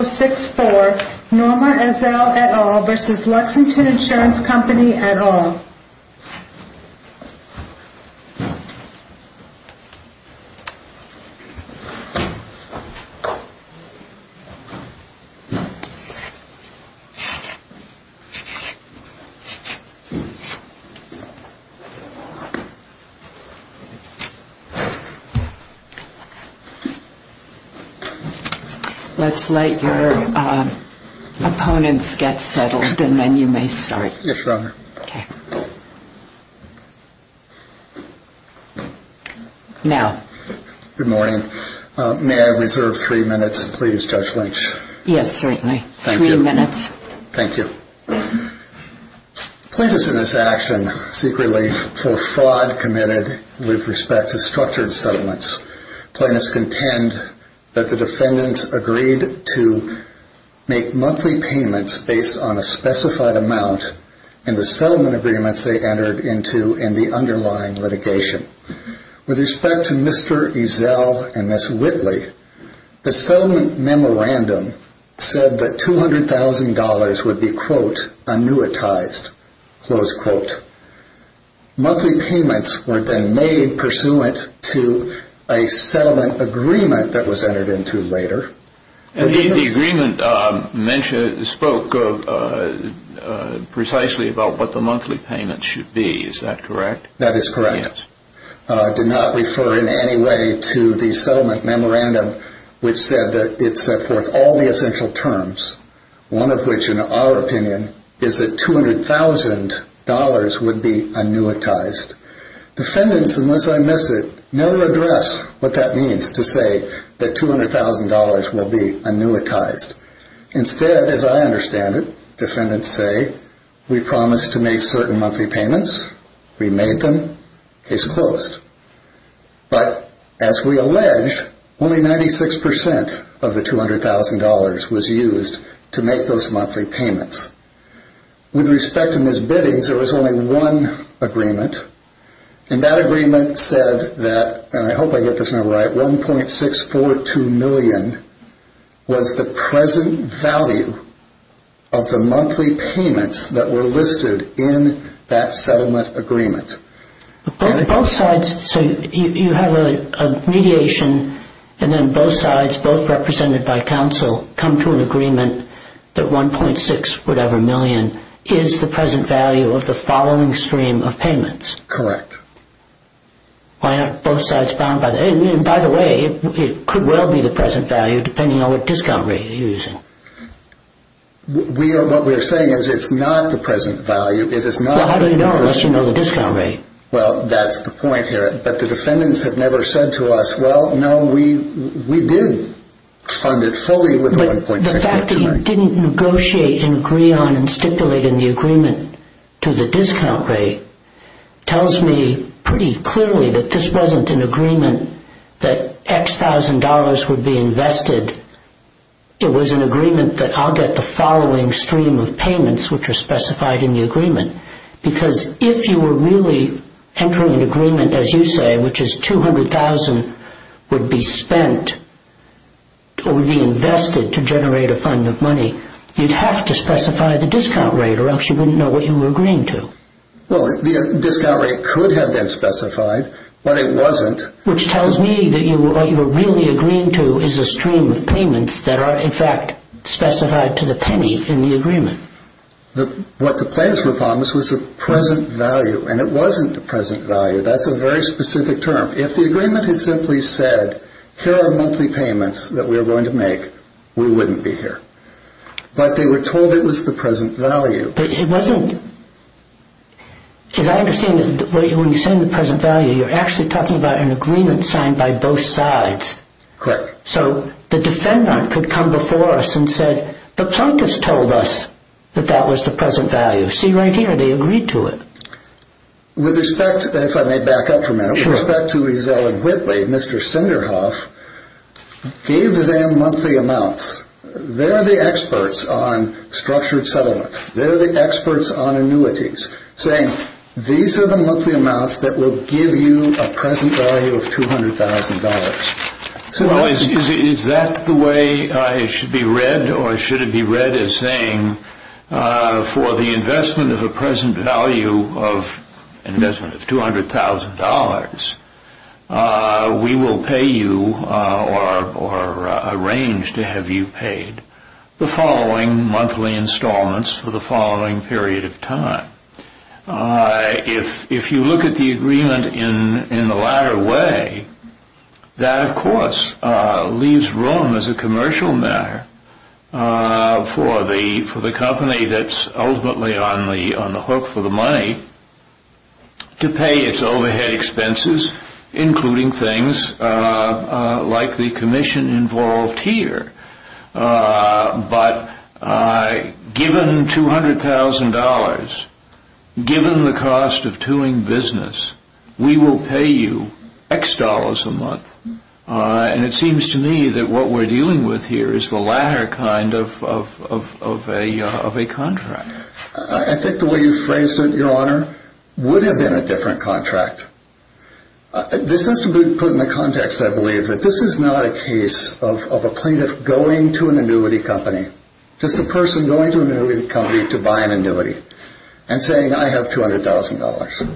No. 64 Norma Ezell et al. v. Lexington Insurance Company et al. Let's let your opponents get settled and then you may start. Yes, Your Honor. Now. Good morning. May I reserve three minutes, please, Judge Lynch? Yes, certainly. Three minutes. Thank you. Plaintiffs in this action secretly for fraud committed with respect to structured settlements. Plaintiffs contend that the defendants agreed to make monthly payments based on a specified amount in the settlement agreements they entered into in the underlying litigation. With respect to Mr. Ezell and Ms. Whitley, the settlement memorandum said that $200,000 would be quote, annuitized, close quote. Monthly payments were then made pursuant to a settlement agreement that was entered into later. The agreement spoke precisely about what the monthly payments should be. Is that correct? That is correct. Yes. which said that it set forth all the essential terms, one of which, in our opinion, is that $200,000 would be annuitized. Defendants, unless I miss it, never address what that means to say that $200,000 will be annuitized. Instead, as I understand it, defendants say, we promised to make certain monthly payments, we made them, case closed. But, as we allege, only 96% of the $200,000 was used to make those monthly payments. With respect to Ms. Biddings, there was only one agreement, and that agreement said that, and I hope I get this number right, $1.642 million was the present value of the monthly payments that were listed in that settlement agreement. Both sides, so you have a mediation, and then both sides, both represented by counsel, come to an agreement that $1.6-whatever-million is the present value of the following stream of payments. Correct. Why aren't both sides bound by that? And, by the way, it could well be the present value, depending on what discount rate you're using. What we're saying is it's not the present value. Well, how do you know unless you know the discount rate? Well, that's the point here, but the defendants have never said to us, well, no, we did fund it fully with $1.642 million. The fact that you didn't negotiate and agree on and stipulate in the agreement to the discount rate tells me pretty clearly that this wasn't an agreement that X thousand dollars would be invested. It was an agreement that I'll get the following stream of payments, which are specified in the agreement, because if you were really entering an agreement, as you say, which is $200,000 would be spent or would be invested to generate a fund of money, you'd have to specify the discount rate, or else you wouldn't know what you were agreeing to. Well, the discount rate could have been specified, but it wasn't. Which tells me that what you were really agreeing to is a stream of payments that are, in fact, specified to the penny in the agreement. What the payments were upon was the present value, and it wasn't the present value. That's a very specific term. If the agreement had simply said, here are monthly payments that we are going to make, we wouldn't be here. But they were told it was the present value. But it wasn't. As I understand it, when you say the present value, you're actually talking about an agreement signed by both sides. Correct. So the defendant could come before us and say, the plaintiffs told us that that was the present value. See right here, they agreed to it. With respect, if I may back up for a minute, with respect to Ezell and Whitley, Mr. Senderhoff gave them monthly amounts. They're the experts on structured settlements. They're the experts on annuities. Saying, these are the monthly amounts that will give you a present value of $200,000. Well, is that the way it should be read, or should it be read as saying, for the investment of a present value of an investment of $200,000, we will pay you or arrange to have you paid the following monthly installments for the following period of time. If you look at the agreement in the latter way, that of course leaves room as a commercial matter for the company that's ultimately on the hook for the money to pay its overhead expenses, including things like the commission involved here. But given $200,000, given the cost of toing business, we will pay you X dollars a month. And it seems to me that what we're dealing with here is the latter kind of a contract. I think the way you phrased it, your honor, would have been a different contract. This has to be put in the context, I believe, that this is not a case of a plaintiff going to an annuity company. Just a person going to an annuity company to buy an annuity and saying, I have $200,000.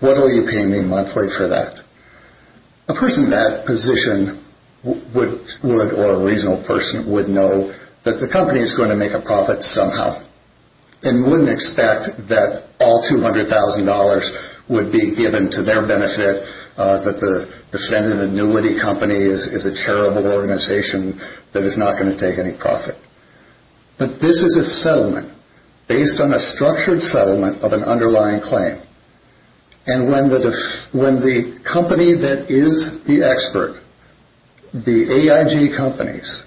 What will you pay me monthly for that? A person in that position would, or a reasonable person, would know that the company is going to make a profit somehow. And wouldn't expect that all $200,000 would be given to their benefit, that the defendant annuity company is a charitable organization that is not going to take any profit. But this is a settlement based on a structured settlement of an underlying claim. And when the company that is the expert, the AIG companies,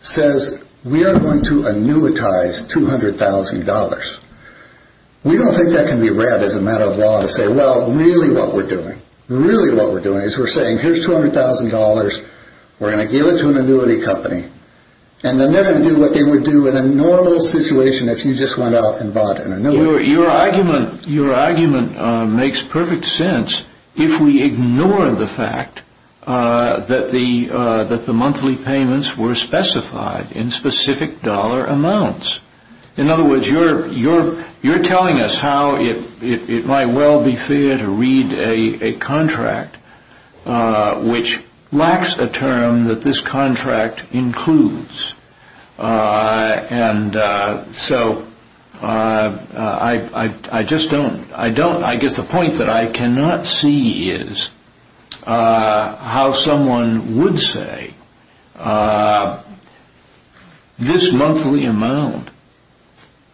says, we are going to annuitize $200,000, we don't think that can be read as a matter of law to say, well, really what we're doing. Really what we're doing is we're saying, here's $200,000. We're going to give it to an annuity company. And then they're going to do what they would do in a normal situation if you just went out and bought an annuity. Your argument makes perfect sense if we ignore the fact that the monthly payments were specified in specific dollar amounts. In other words, you're telling us how it might well be fair to read a contract which lacks a term that this contract includes. And so I just don't, I don't, I guess the point that I cannot see is how someone would say, this monthly amount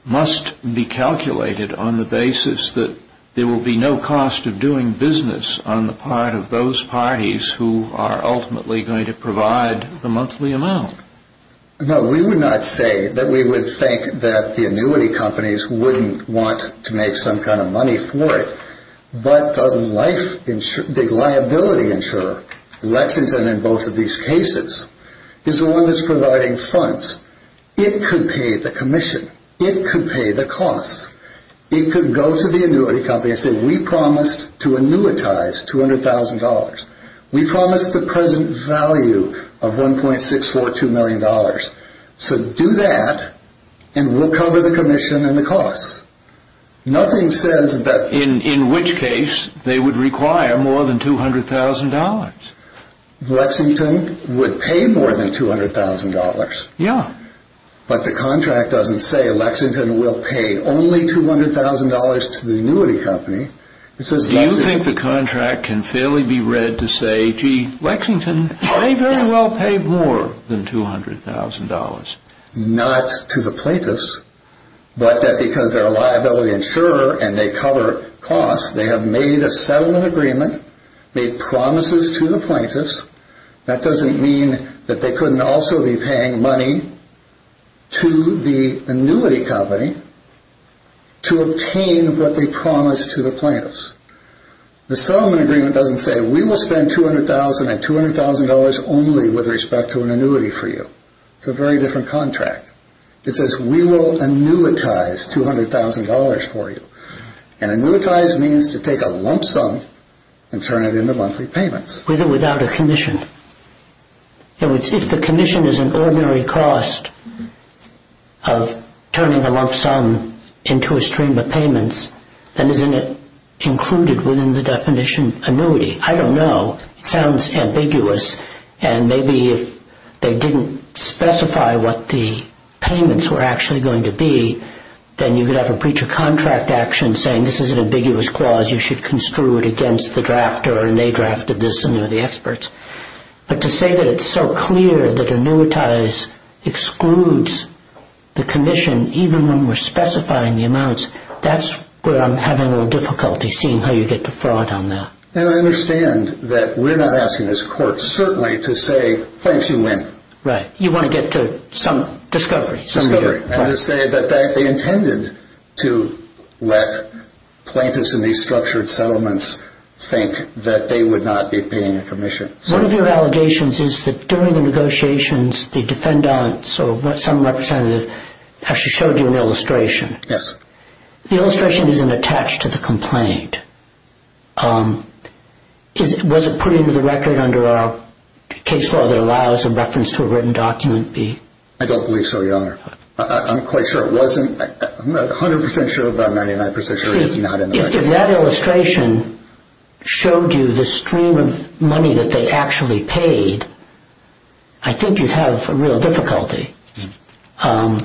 must be calculated on the basis that there will be no cost of doing business on the part of those parties who are ultimately going to provide the monthly amount. No, we would not say that we would think that the annuity companies wouldn't want to make some kind of money for it. But the liability insurer, Lexington in both of these cases, is the one that's providing funds. It could pay the commission. It could pay the costs. It could go to the annuity company and say, we promised to annuitize $200,000. We promised the present value of $1.642 million. So do that, and we'll cover the commission and the costs. Nothing says that... In which case they would require more than $200,000. Lexington would pay more than $200,000. Yeah. But the contract doesn't say Lexington will pay only $200,000 to the annuity company. Do you think the contract can fairly be read to say, gee, Lexington may very well pay more than $200,000? Not to the plaintiffs, but that because they're a liability insurer and they cover costs, they have made a settlement agreement, made promises to the plaintiffs. That doesn't mean that they couldn't also be paying money to the annuity company to obtain what they promised to the plaintiffs. The settlement agreement doesn't say, we will spend $200,000 and $200,000 only with respect to an annuity for you. It's a very different contract. It says, we will annuitize $200,000 for you. And annuitize means to take a lump sum and turn it into monthly payments. With or without a commission. If the commission is an ordinary cost of turning a lump sum into a stream of payments, then isn't it included within the definition of annuity? I don't know. It sounds ambiguous. And maybe if they didn't specify what the payments were actually going to be, then you could have a breach of contract action saying this is an ambiguous clause, you should construe it against the drafter and they drafted this and they're the experts. But to say that it's so clear that annuitize excludes the commission, even when we're specifying the amounts, that's where I'm having a little difficulty seeing how you get to fraud on that. And I understand that we're not asking this court certainly to say, plaintiffs, you win. Right. You want to get to some discovery. And to say that they intended to let plaintiffs in these structured settlements think that they would not be paying a commission. One of your allegations is that during the negotiations, the defendants or some representative actually showed you an illustration. Yes. The illustration isn't attached to the complaint. Was it put into the record under our case law that allows a reference to a written document be? I don't believe so, Your Honor. I'm quite sure it wasn't. I'm not 100% sure, but I'm 99% sure it's not in the record. If that illustration showed you the stream of money that they actually paid, I think you'd have real difficulty. And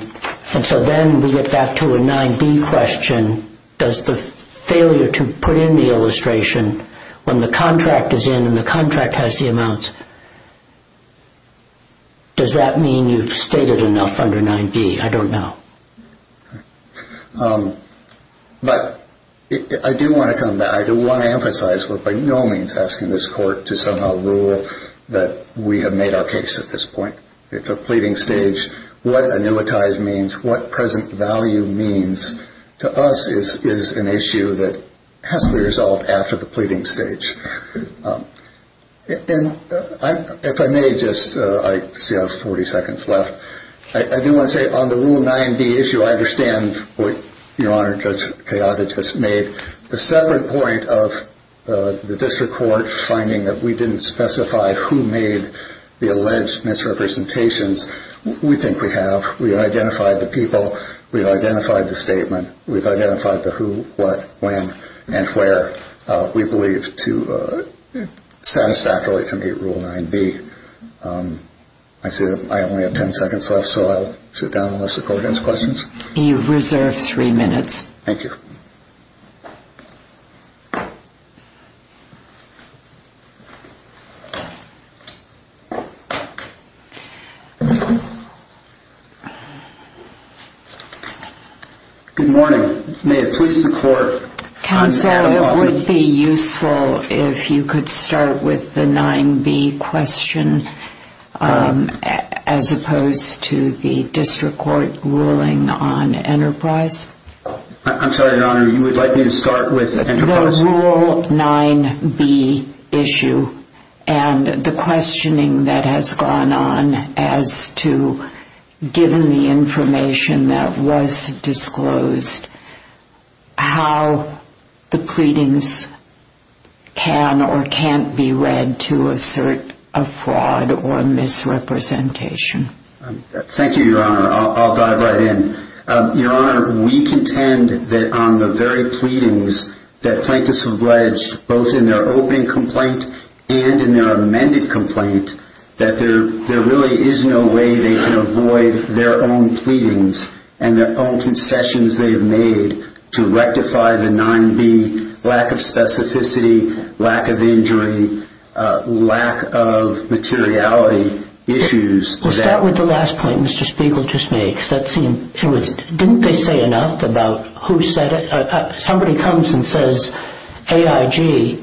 so then we get back to a 9B question. Does the failure to put in the illustration when the contract is in and the contract has the amounts, does that mean you've stated enough under 9B? I don't know. But I do want to come back. I do want to emphasize we're by no means asking this court to somehow rule that we have made our case at this point. It's a pleading stage. What annuitized means, what present value means to us is an issue that has to be resolved after the pleading stage. And if I may just, I see I have 40 seconds left. I do want to say on the Rule 9B issue, I understand what Your Honor, Judge Kayada just made. The separate point of the district court finding that we didn't specify who made the alleged misrepresentations, we think we have. We've identified the people. We've identified the statement. We've identified the who, what, when, and where we believe to, satisfactorily to meet Rule 9B. I see that I only have 10 seconds left, so I'll sit down unless the court has questions. You have reserved three minutes. Thank you. Good morning. Counsel, it would be useful if you could start with the 9B question as opposed to the district court ruling on Enterprise. I'm sorry, Your Honor. You would like me to start with Enterprise? The Rule 9B issue and the questioning that has gone on as to, given the information that was disclosed, how the pleadings can or can't be read to assert a fraud or misrepresentation. Thank you, Your Honor. I'll dive right in. Your Honor, we contend that on the very pleadings that plaintiffs have alleged, both in their opening complaint and in their amended complaint, that there really is no way they can avoid their own pleadings and their own concessions they've made to rectify the 9B lack of specificity, lack of injury, lack of materiality issues. We'll start with the last point Mr. Spiegel just made. Didn't they say enough about who said it? Somebody comes and says AIG.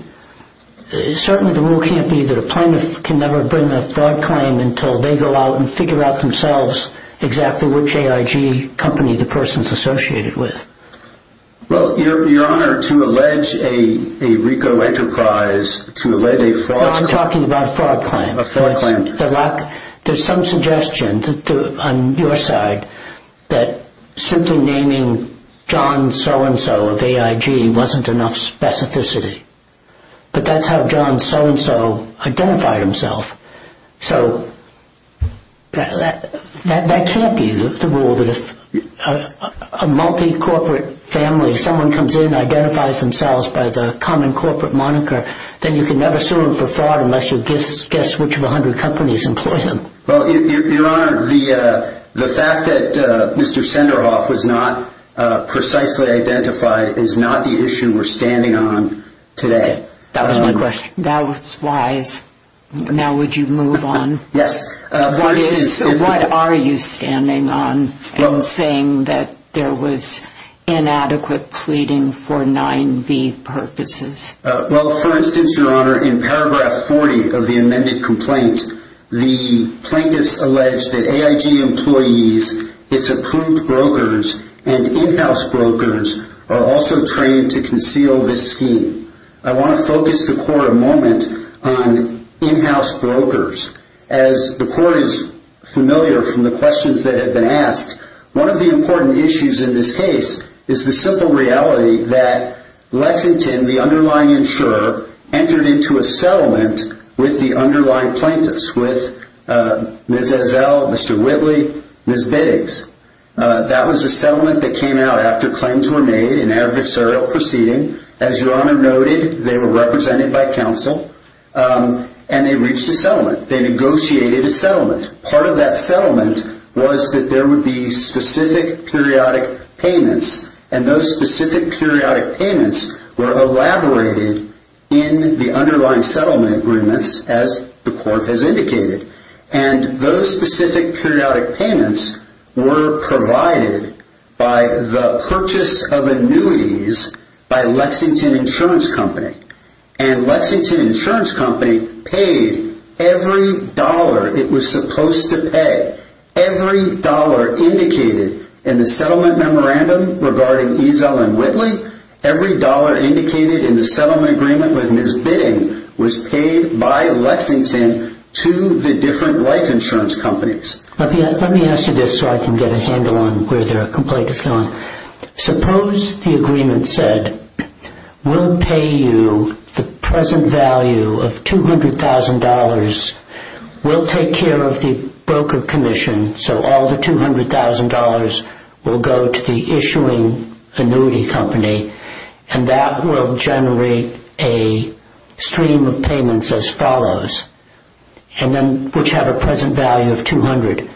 Certainly the rule can't be that a plaintiff can never bring a fraud claim until they go out and figure out themselves exactly which AIG company the person is associated with. Well, Your Honor, to allege a RICO Enterprise, to allege a fraud claim... No, I'm talking about a fraud claim. A fraud claim. There's some suggestion on your side that simply naming John so-and-so of AIG wasn't enough specificity. But that's how John so-and-so identified himself. So that can't be the rule that if a multi-corporate family, someone comes in, identifies themselves by the common corporate moniker, then you can never sue them for fraud unless you guess which of a hundred companies employ them. Well, Your Honor, the fact that Mr. Senderhoff was not precisely identified is not the issue we're standing on today. That was my question. That was wise. Now would you move on? Yes. What are you standing on in saying that there was inadequate pleading for 9B purposes? Well, for instance, Your Honor, in paragraph 40 of the amended complaint, the plaintiffs allege that AIG employees, its approved brokers, and in-house brokers are also trained to conceal this scheme. I want to focus the court a moment on in-house brokers. As the court is familiar from the questions that have been asked, One of the important issues in this case is the simple reality that Lexington, the underlying insurer, entered into a settlement with the underlying plaintiffs, with Ms. Ezell, Mr. Whitley, Ms. Biggs. That was a settlement that came out after claims were made in adversarial proceeding. As Your Honor noted, they were represented by counsel, and they reached a settlement. They negotiated a settlement. Part of that settlement was that there would be specific periodic payments, and those specific periodic payments were elaborated in the underlying settlement agreements, as the court has indicated. And those specific periodic payments were provided by the purchase of annuities by Lexington Insurance Company. And Lexington Insurance Company paid every dollar it was supposed to pay. Every dollar indicated in the settlement memorandum regarding Ezell and Whitley, every dollar indicated in the settlement agreement with Ms. Bidding, was paid by Lexington to the different life insurance companies. Let me ask you this so I can get a handle on where their complaint is going. Suppose the agreement said, we'll pay you the present value of $200,000. We'll take care of the broker commission, so all the $200,000 will go to the issuing annuity company, and that will generate a stream of payments as follows, which have a present value of $200,000.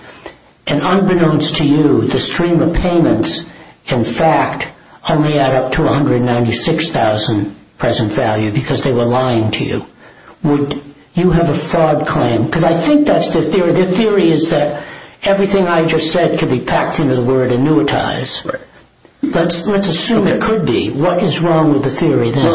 And unbeknownst to you, the stream of payments, in fact, only add up to $196,000 present value, because they were lying to you. Would you have a fraud claim? Because I think that's their theory. Their theory is that everything I just said could be packed into the word annuitize. Let's assume it could be. What is wrong with the theory then?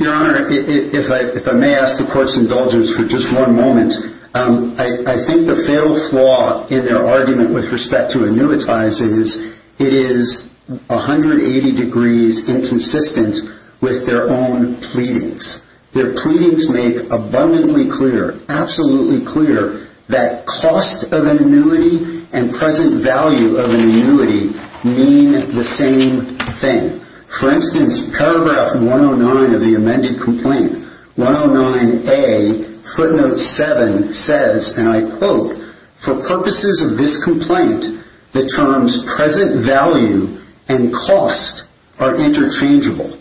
Your Honor, if I may ask the court's indulgence for just one moment, I think the fatal flaw in their argument with respect to annuitize is, it is 180 degrees inconsistent with their own pleadings. Their pleadings make abundantly clear, absolutely clear, that cost of annuity and present value of annuity mean the same thing. For instance, paragraph 109 of the amended complaint, 109A, footnote 7, says, and I quote, for purposes of this complaint, the terms present value and cost are interchangeable.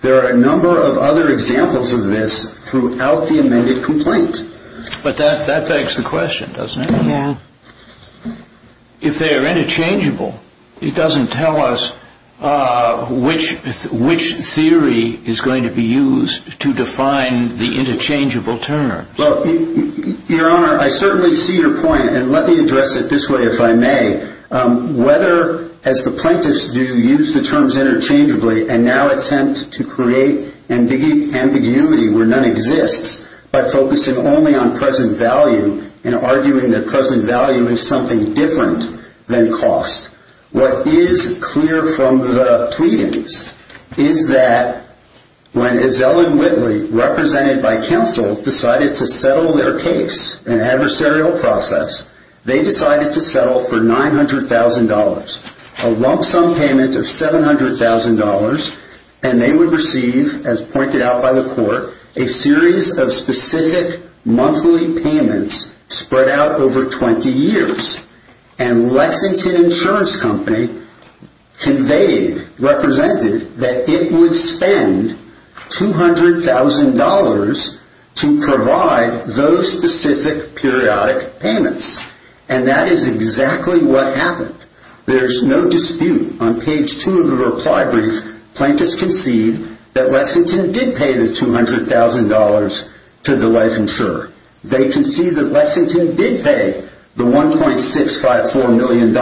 There are a number of other examples of this throughout the amended complaint. But that begs the question, doesn't it? Yeah. If they are interchangeable, it doesn't tell us which theory is going to be used to define the interchangeable terms. Your Honor, I certainly see your point, and let me address it this way if I may. Whether, as the plaintiffs do, use the terms interchangeably and now attempt to create ambiguity where none exists by focusing only on present value and arguing that present value is something different than cost. What is clear from the pleadings is that when Ezell and Whitley, represented by counsel, decided to settle their case, an adversarial process, they decided to settle for $900,000, a lump sum payment of $700,000, and they would receive, as pointed out by the court, a series of specific monthly payments spread out over 20 years. And Lexington Insurance Company conveyed, represented, that it would spend $200,000 to provide those specific periodic payments. And that is exactly what happened. There is no dispute. On page 2 of the reply brief, plaintiffs concede that Lexington did pay the $200,000 to the life insurer. They concede that Lexington did pay the $1.654 million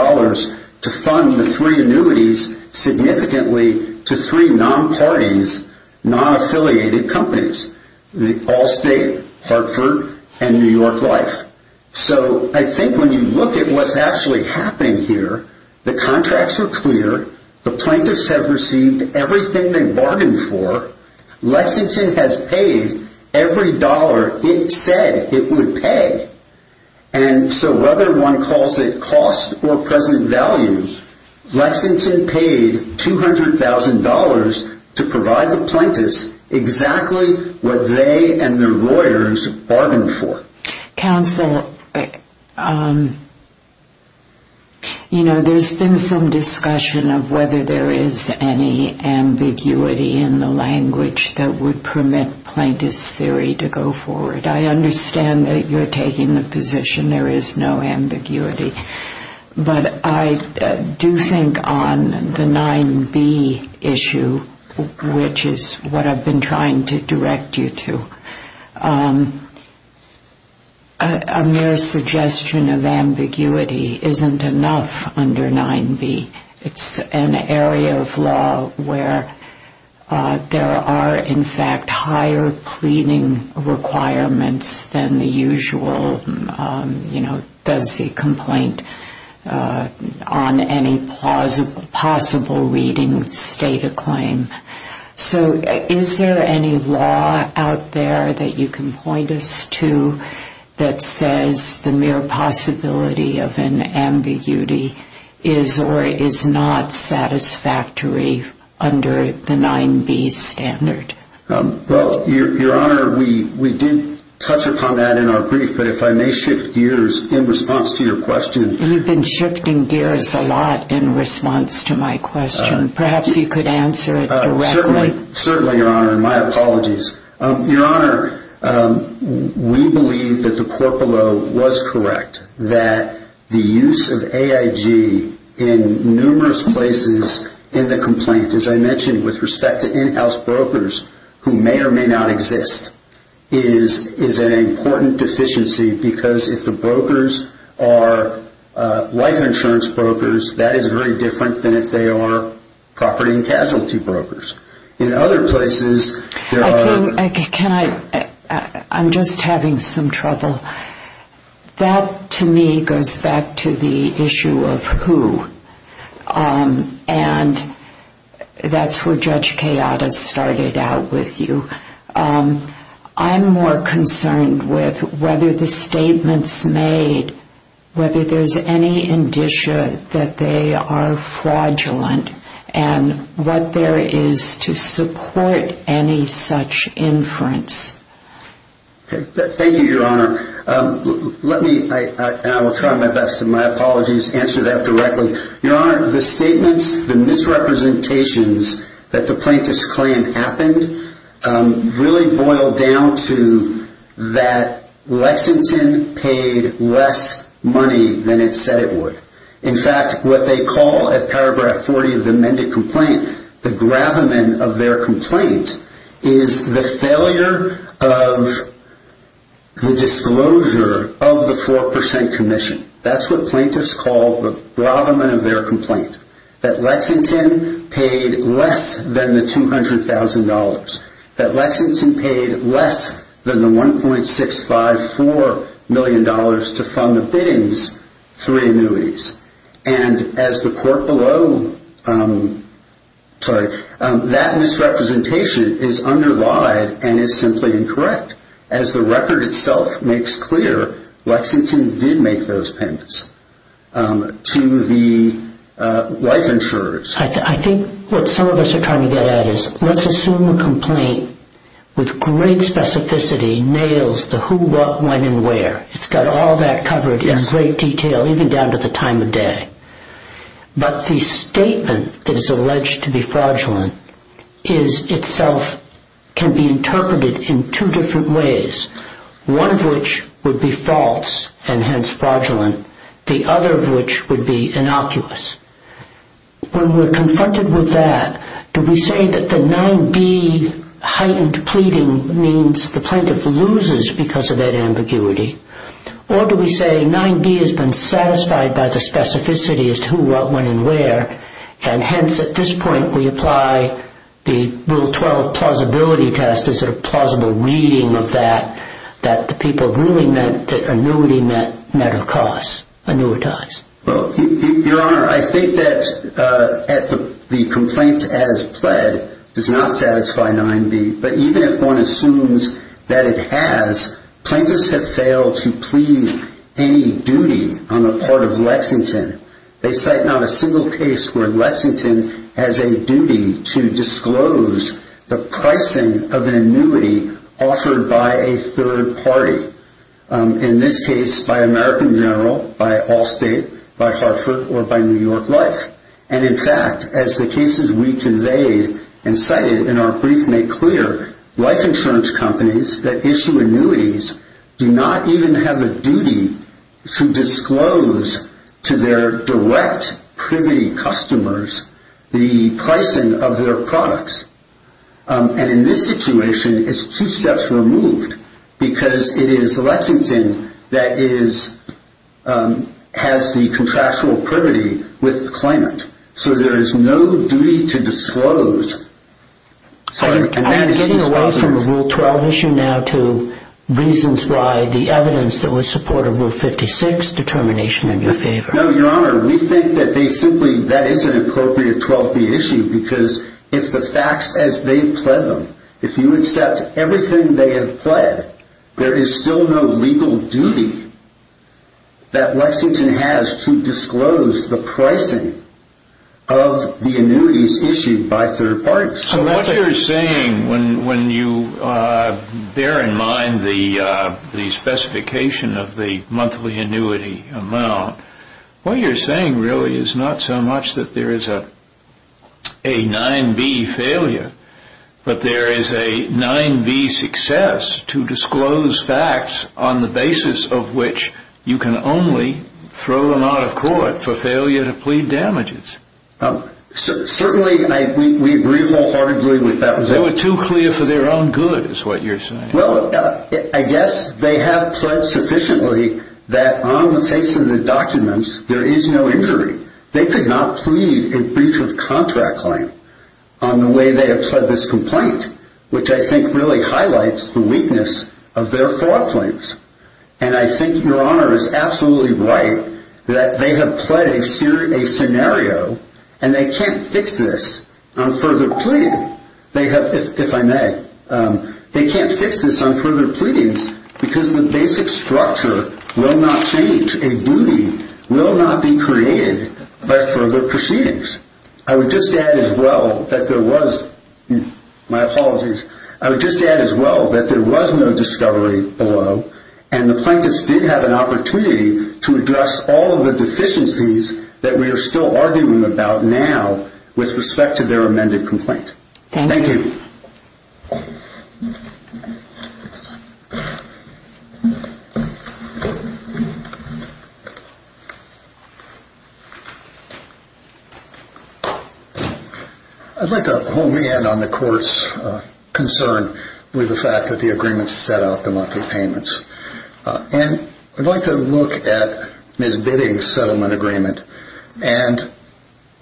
to fund the three annuities significantly to three non-parties, non-affiliated companies, Allstate, Hartford, and New York Life. So I think when you look at what's actually happening here, the contracts are clear, the plaintiffs have received everything they bargained for, Lexington has paid every dollar it said it would pay. And so whether one calls it cost or present value, Lexington paid $200,000 to provide the plaintiffs exactly what they and their lawyers bargained for. Counsel, you know, there's been some discussion of whether there is any ambiguity in the language that would permit plaintiff's theory to go forward. I understand that you're taking the position there is no ambiguity. But I do think on the 9B issue, which is what I've been trying to direct you to, a mere suggestion of ambiguity isn't enough under 9B. It's an area of law where there are, in fact, higher pleading requirements than the usual, you know, does the complaint on any possible reading state a claim. So is there any law out there that you can point us to that says the mere possibility of an ambiguity is or is not satisfactory under the 9B standard? Well, Your Honor, we did touch upon that in our brief, but if I may shift gears in response to your question. You've been shifting gears a lot in response to my question. Perhaps you could answer it directly. Certainly, Your Honor, and my apologies. Your Honor, we believe that the court below was correct, that the use of AIG in numerous places in the complaint, as I mentioned with respect to in-house brokers who may or may not exist, is an important deficiency because if the brokers are life insurance brokers, that is very different than if they are property and casualty brokers. In other places, there are... I think, can I, I'm just having some trouble. That, to me, goes back to the issue of who, and that's where Judge Kayada started out with you. I'm more concerned with whether the statements made, whether there's any indicia that they are fraudulent and what there is to support any such inference. Thank you, Your Honor. Let me, and I will try my best, and my apologies, answer that directly. Your Honor, the statements, the misrepresentations that the plaintiff's claim happened really boiled down to that Lexington paid less money than it said it would. In fact, what they call at paragraph 40 of the amended complaint, the gravamen of their complaint, is the failure of the disclosure of the 4% commission. That's what plaintiffs call the gravamen of their complaint, that Lexington paid less than the $200,000, that Lexington paid less than the $1.654 million to fund the biddings through annuities. And as the court below... Sorry, that misrepresentation is underlied and is simply incorrect. As the record itself makes clear, Lexington did make those payments to the life insurers. I think what some of us are trying to get at is, let's assume a complaint with great specificity nails the who, what, when, and where. It's got all that covered in great detail, even down to the time of day. But the statement that is alleged to be fraudulent itself can be interpreted in two different ways, one of which would be false and hence fraudulent, the other of which would be innocuous. When we're confronted with that, do we say that the 9B heightened pleading means the plaintiff loses because of that ambiguity, or do we say 9B has been satisfied by the specificity as to who, what, when, and where, and hence at this point we apply the Rule 12 plausibility test as a sort of plausible reading of that, that the people really meant that annuity met a cost, annuitized. Your Honor, I think that the complaint as pled does not satisfy 9B, but even if one assumes that it has, plaintiffs have failed to plead any duty on the part of Lexington. They cite not a single case where Lexington has a duty to disclose the pricing of an annuity offered by a third party, in this case by American General, by Allstate, by Hartford, or by New York Life. And in fact, as the cases we conveyed and cited in our brief make clear, life insurance companies that issue annuities do not even have a duty to disclose to their direct privity customers the pricing of their products. And in this situation, it's two steps removed, because it is Lexington that has the contractual privity with the claimant. So I'm getting away from the Rule 12 issue now to reasons why the evidence that would support a Rule 56 determination in your favor. No, Your Honor, we think that they simply, that is an appropriate 12B issue, because it's the facts as they've pled them. If you accept everything they have pled, there is still no legal duty that Lexington has to disclose the pricing of the annuities issued by third parties. So what you're saying, when you bear in mind the specification of the monthly annuity amount, what you're saying really is not so much that there is a 9B failure, but there is a 9B success to disclose facts on the basis of which you can only throw them out of court for failure to plead damages. Certainly, we agree wholeheartedly with that. They were too clear for their own good, is what you're saying. Well, I guess they have pled sufficiently that on the face of the documents, there is no injury. They could not plead a breach of contract claim on the way they have pled this complaint, which I think really highlights the weakness of their fraud claims. And I think Your Honor is absolutely right that they have pled a scenario, and they can't fix this on further pleading, if I may. They can't fix this on further pleadings because the basic structure will not change. A duty will not be created by further proceedings. I would just add as well that there was, my apologies, I would just add as well that there was no discovery below, and the plaintiffs did have an opportunity to address all of the deficiencies that we are still arguing about now with respect to their amended complaint. Thank you. Thank you. I'd like to hone in on the court's concern with the fact that the agreement set out the monthly payments. And I'd like to look at Ms. Bidding's settlement agreement. And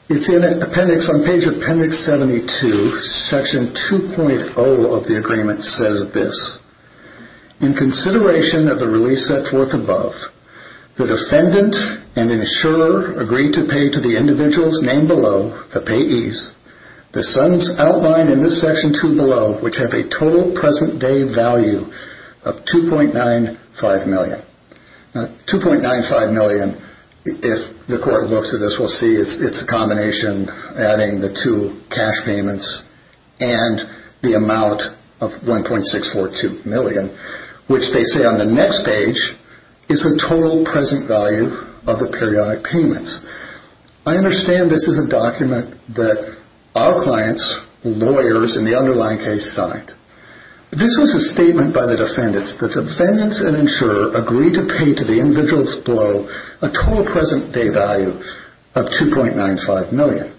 it's in appendix, on page appendix 72, section 2.0 of the agreement says this. In consideration of the release set forth above, the defendant and insurer agreed to pay to the individuals named below, the payees, the sums outlined in this section 2 below, which have a total present day value of $2.95 million. Now, $2.95 million, if the court looks at this, will see it's a combination adding the two cash payments and the amount of $1.642 million, which they say on the next page, is the total present value of the periodic payments. I understand this is a document that our clients, lawyers in the underlying case, signed. This was a statement by the defendants that the defendants and insurer agreed to pay to the individuals below a total present day value of $2.95 million.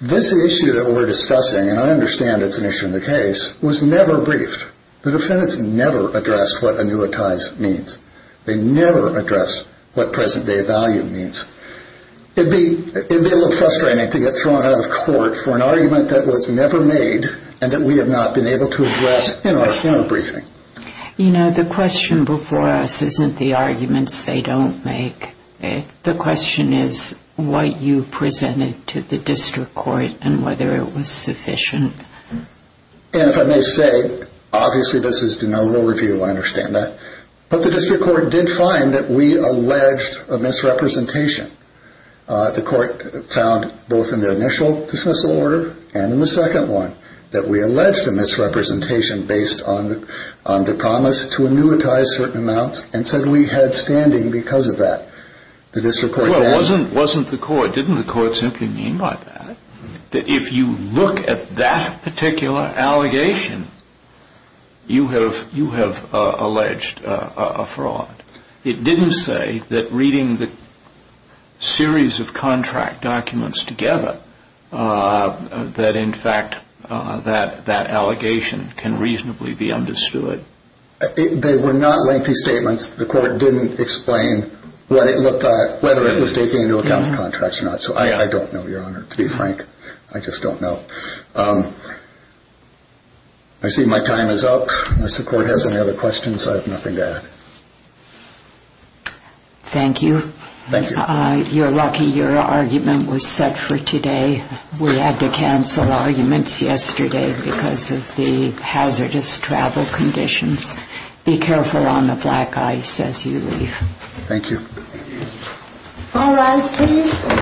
This issue that we're discussing, and I understand it's an issue in the case, was never briefed. The defendants never addressed what annuitize means. They never addressed what present day value means. It would be a little frustrating to get thrown out of court for an argument that was never made and that we have not been able to address in our briefing. You know, the question before us isn't the arguments they don't make. The question is what you presented to the district court and whether it was sufficient. And if I may say, obviously this is de novo review, I understand that. But the district court did find that we alleged a misrepresentation. The court found, both in the initial dismissal order and in the second one, that we alleged a misrepresentation based on the promise to annuitize certain amounts and said we had standing because of that. Well, it wasn't the court. Didn't the court simply mean by that? That if you look at that particular allegation, you have alleged a fraud. It didn't say that reading the series of contract documents together, that in fact that allegation can reasonably be understood. They were not lengthy statements. The court didn't explain what it looked like, whether it was taking into account the contracts or not. So I don't know, Your Honor, to be frank. I just don't know. I see my time is up. Unless the court has any other questions, I have nothing to add. Thank you. Thank you. You're lucky your argument was set for today. We had to cancel arguments yesterday because of the hazardous travel conditions. Be careful on the black ice as you leave. Thank you. All rise, please.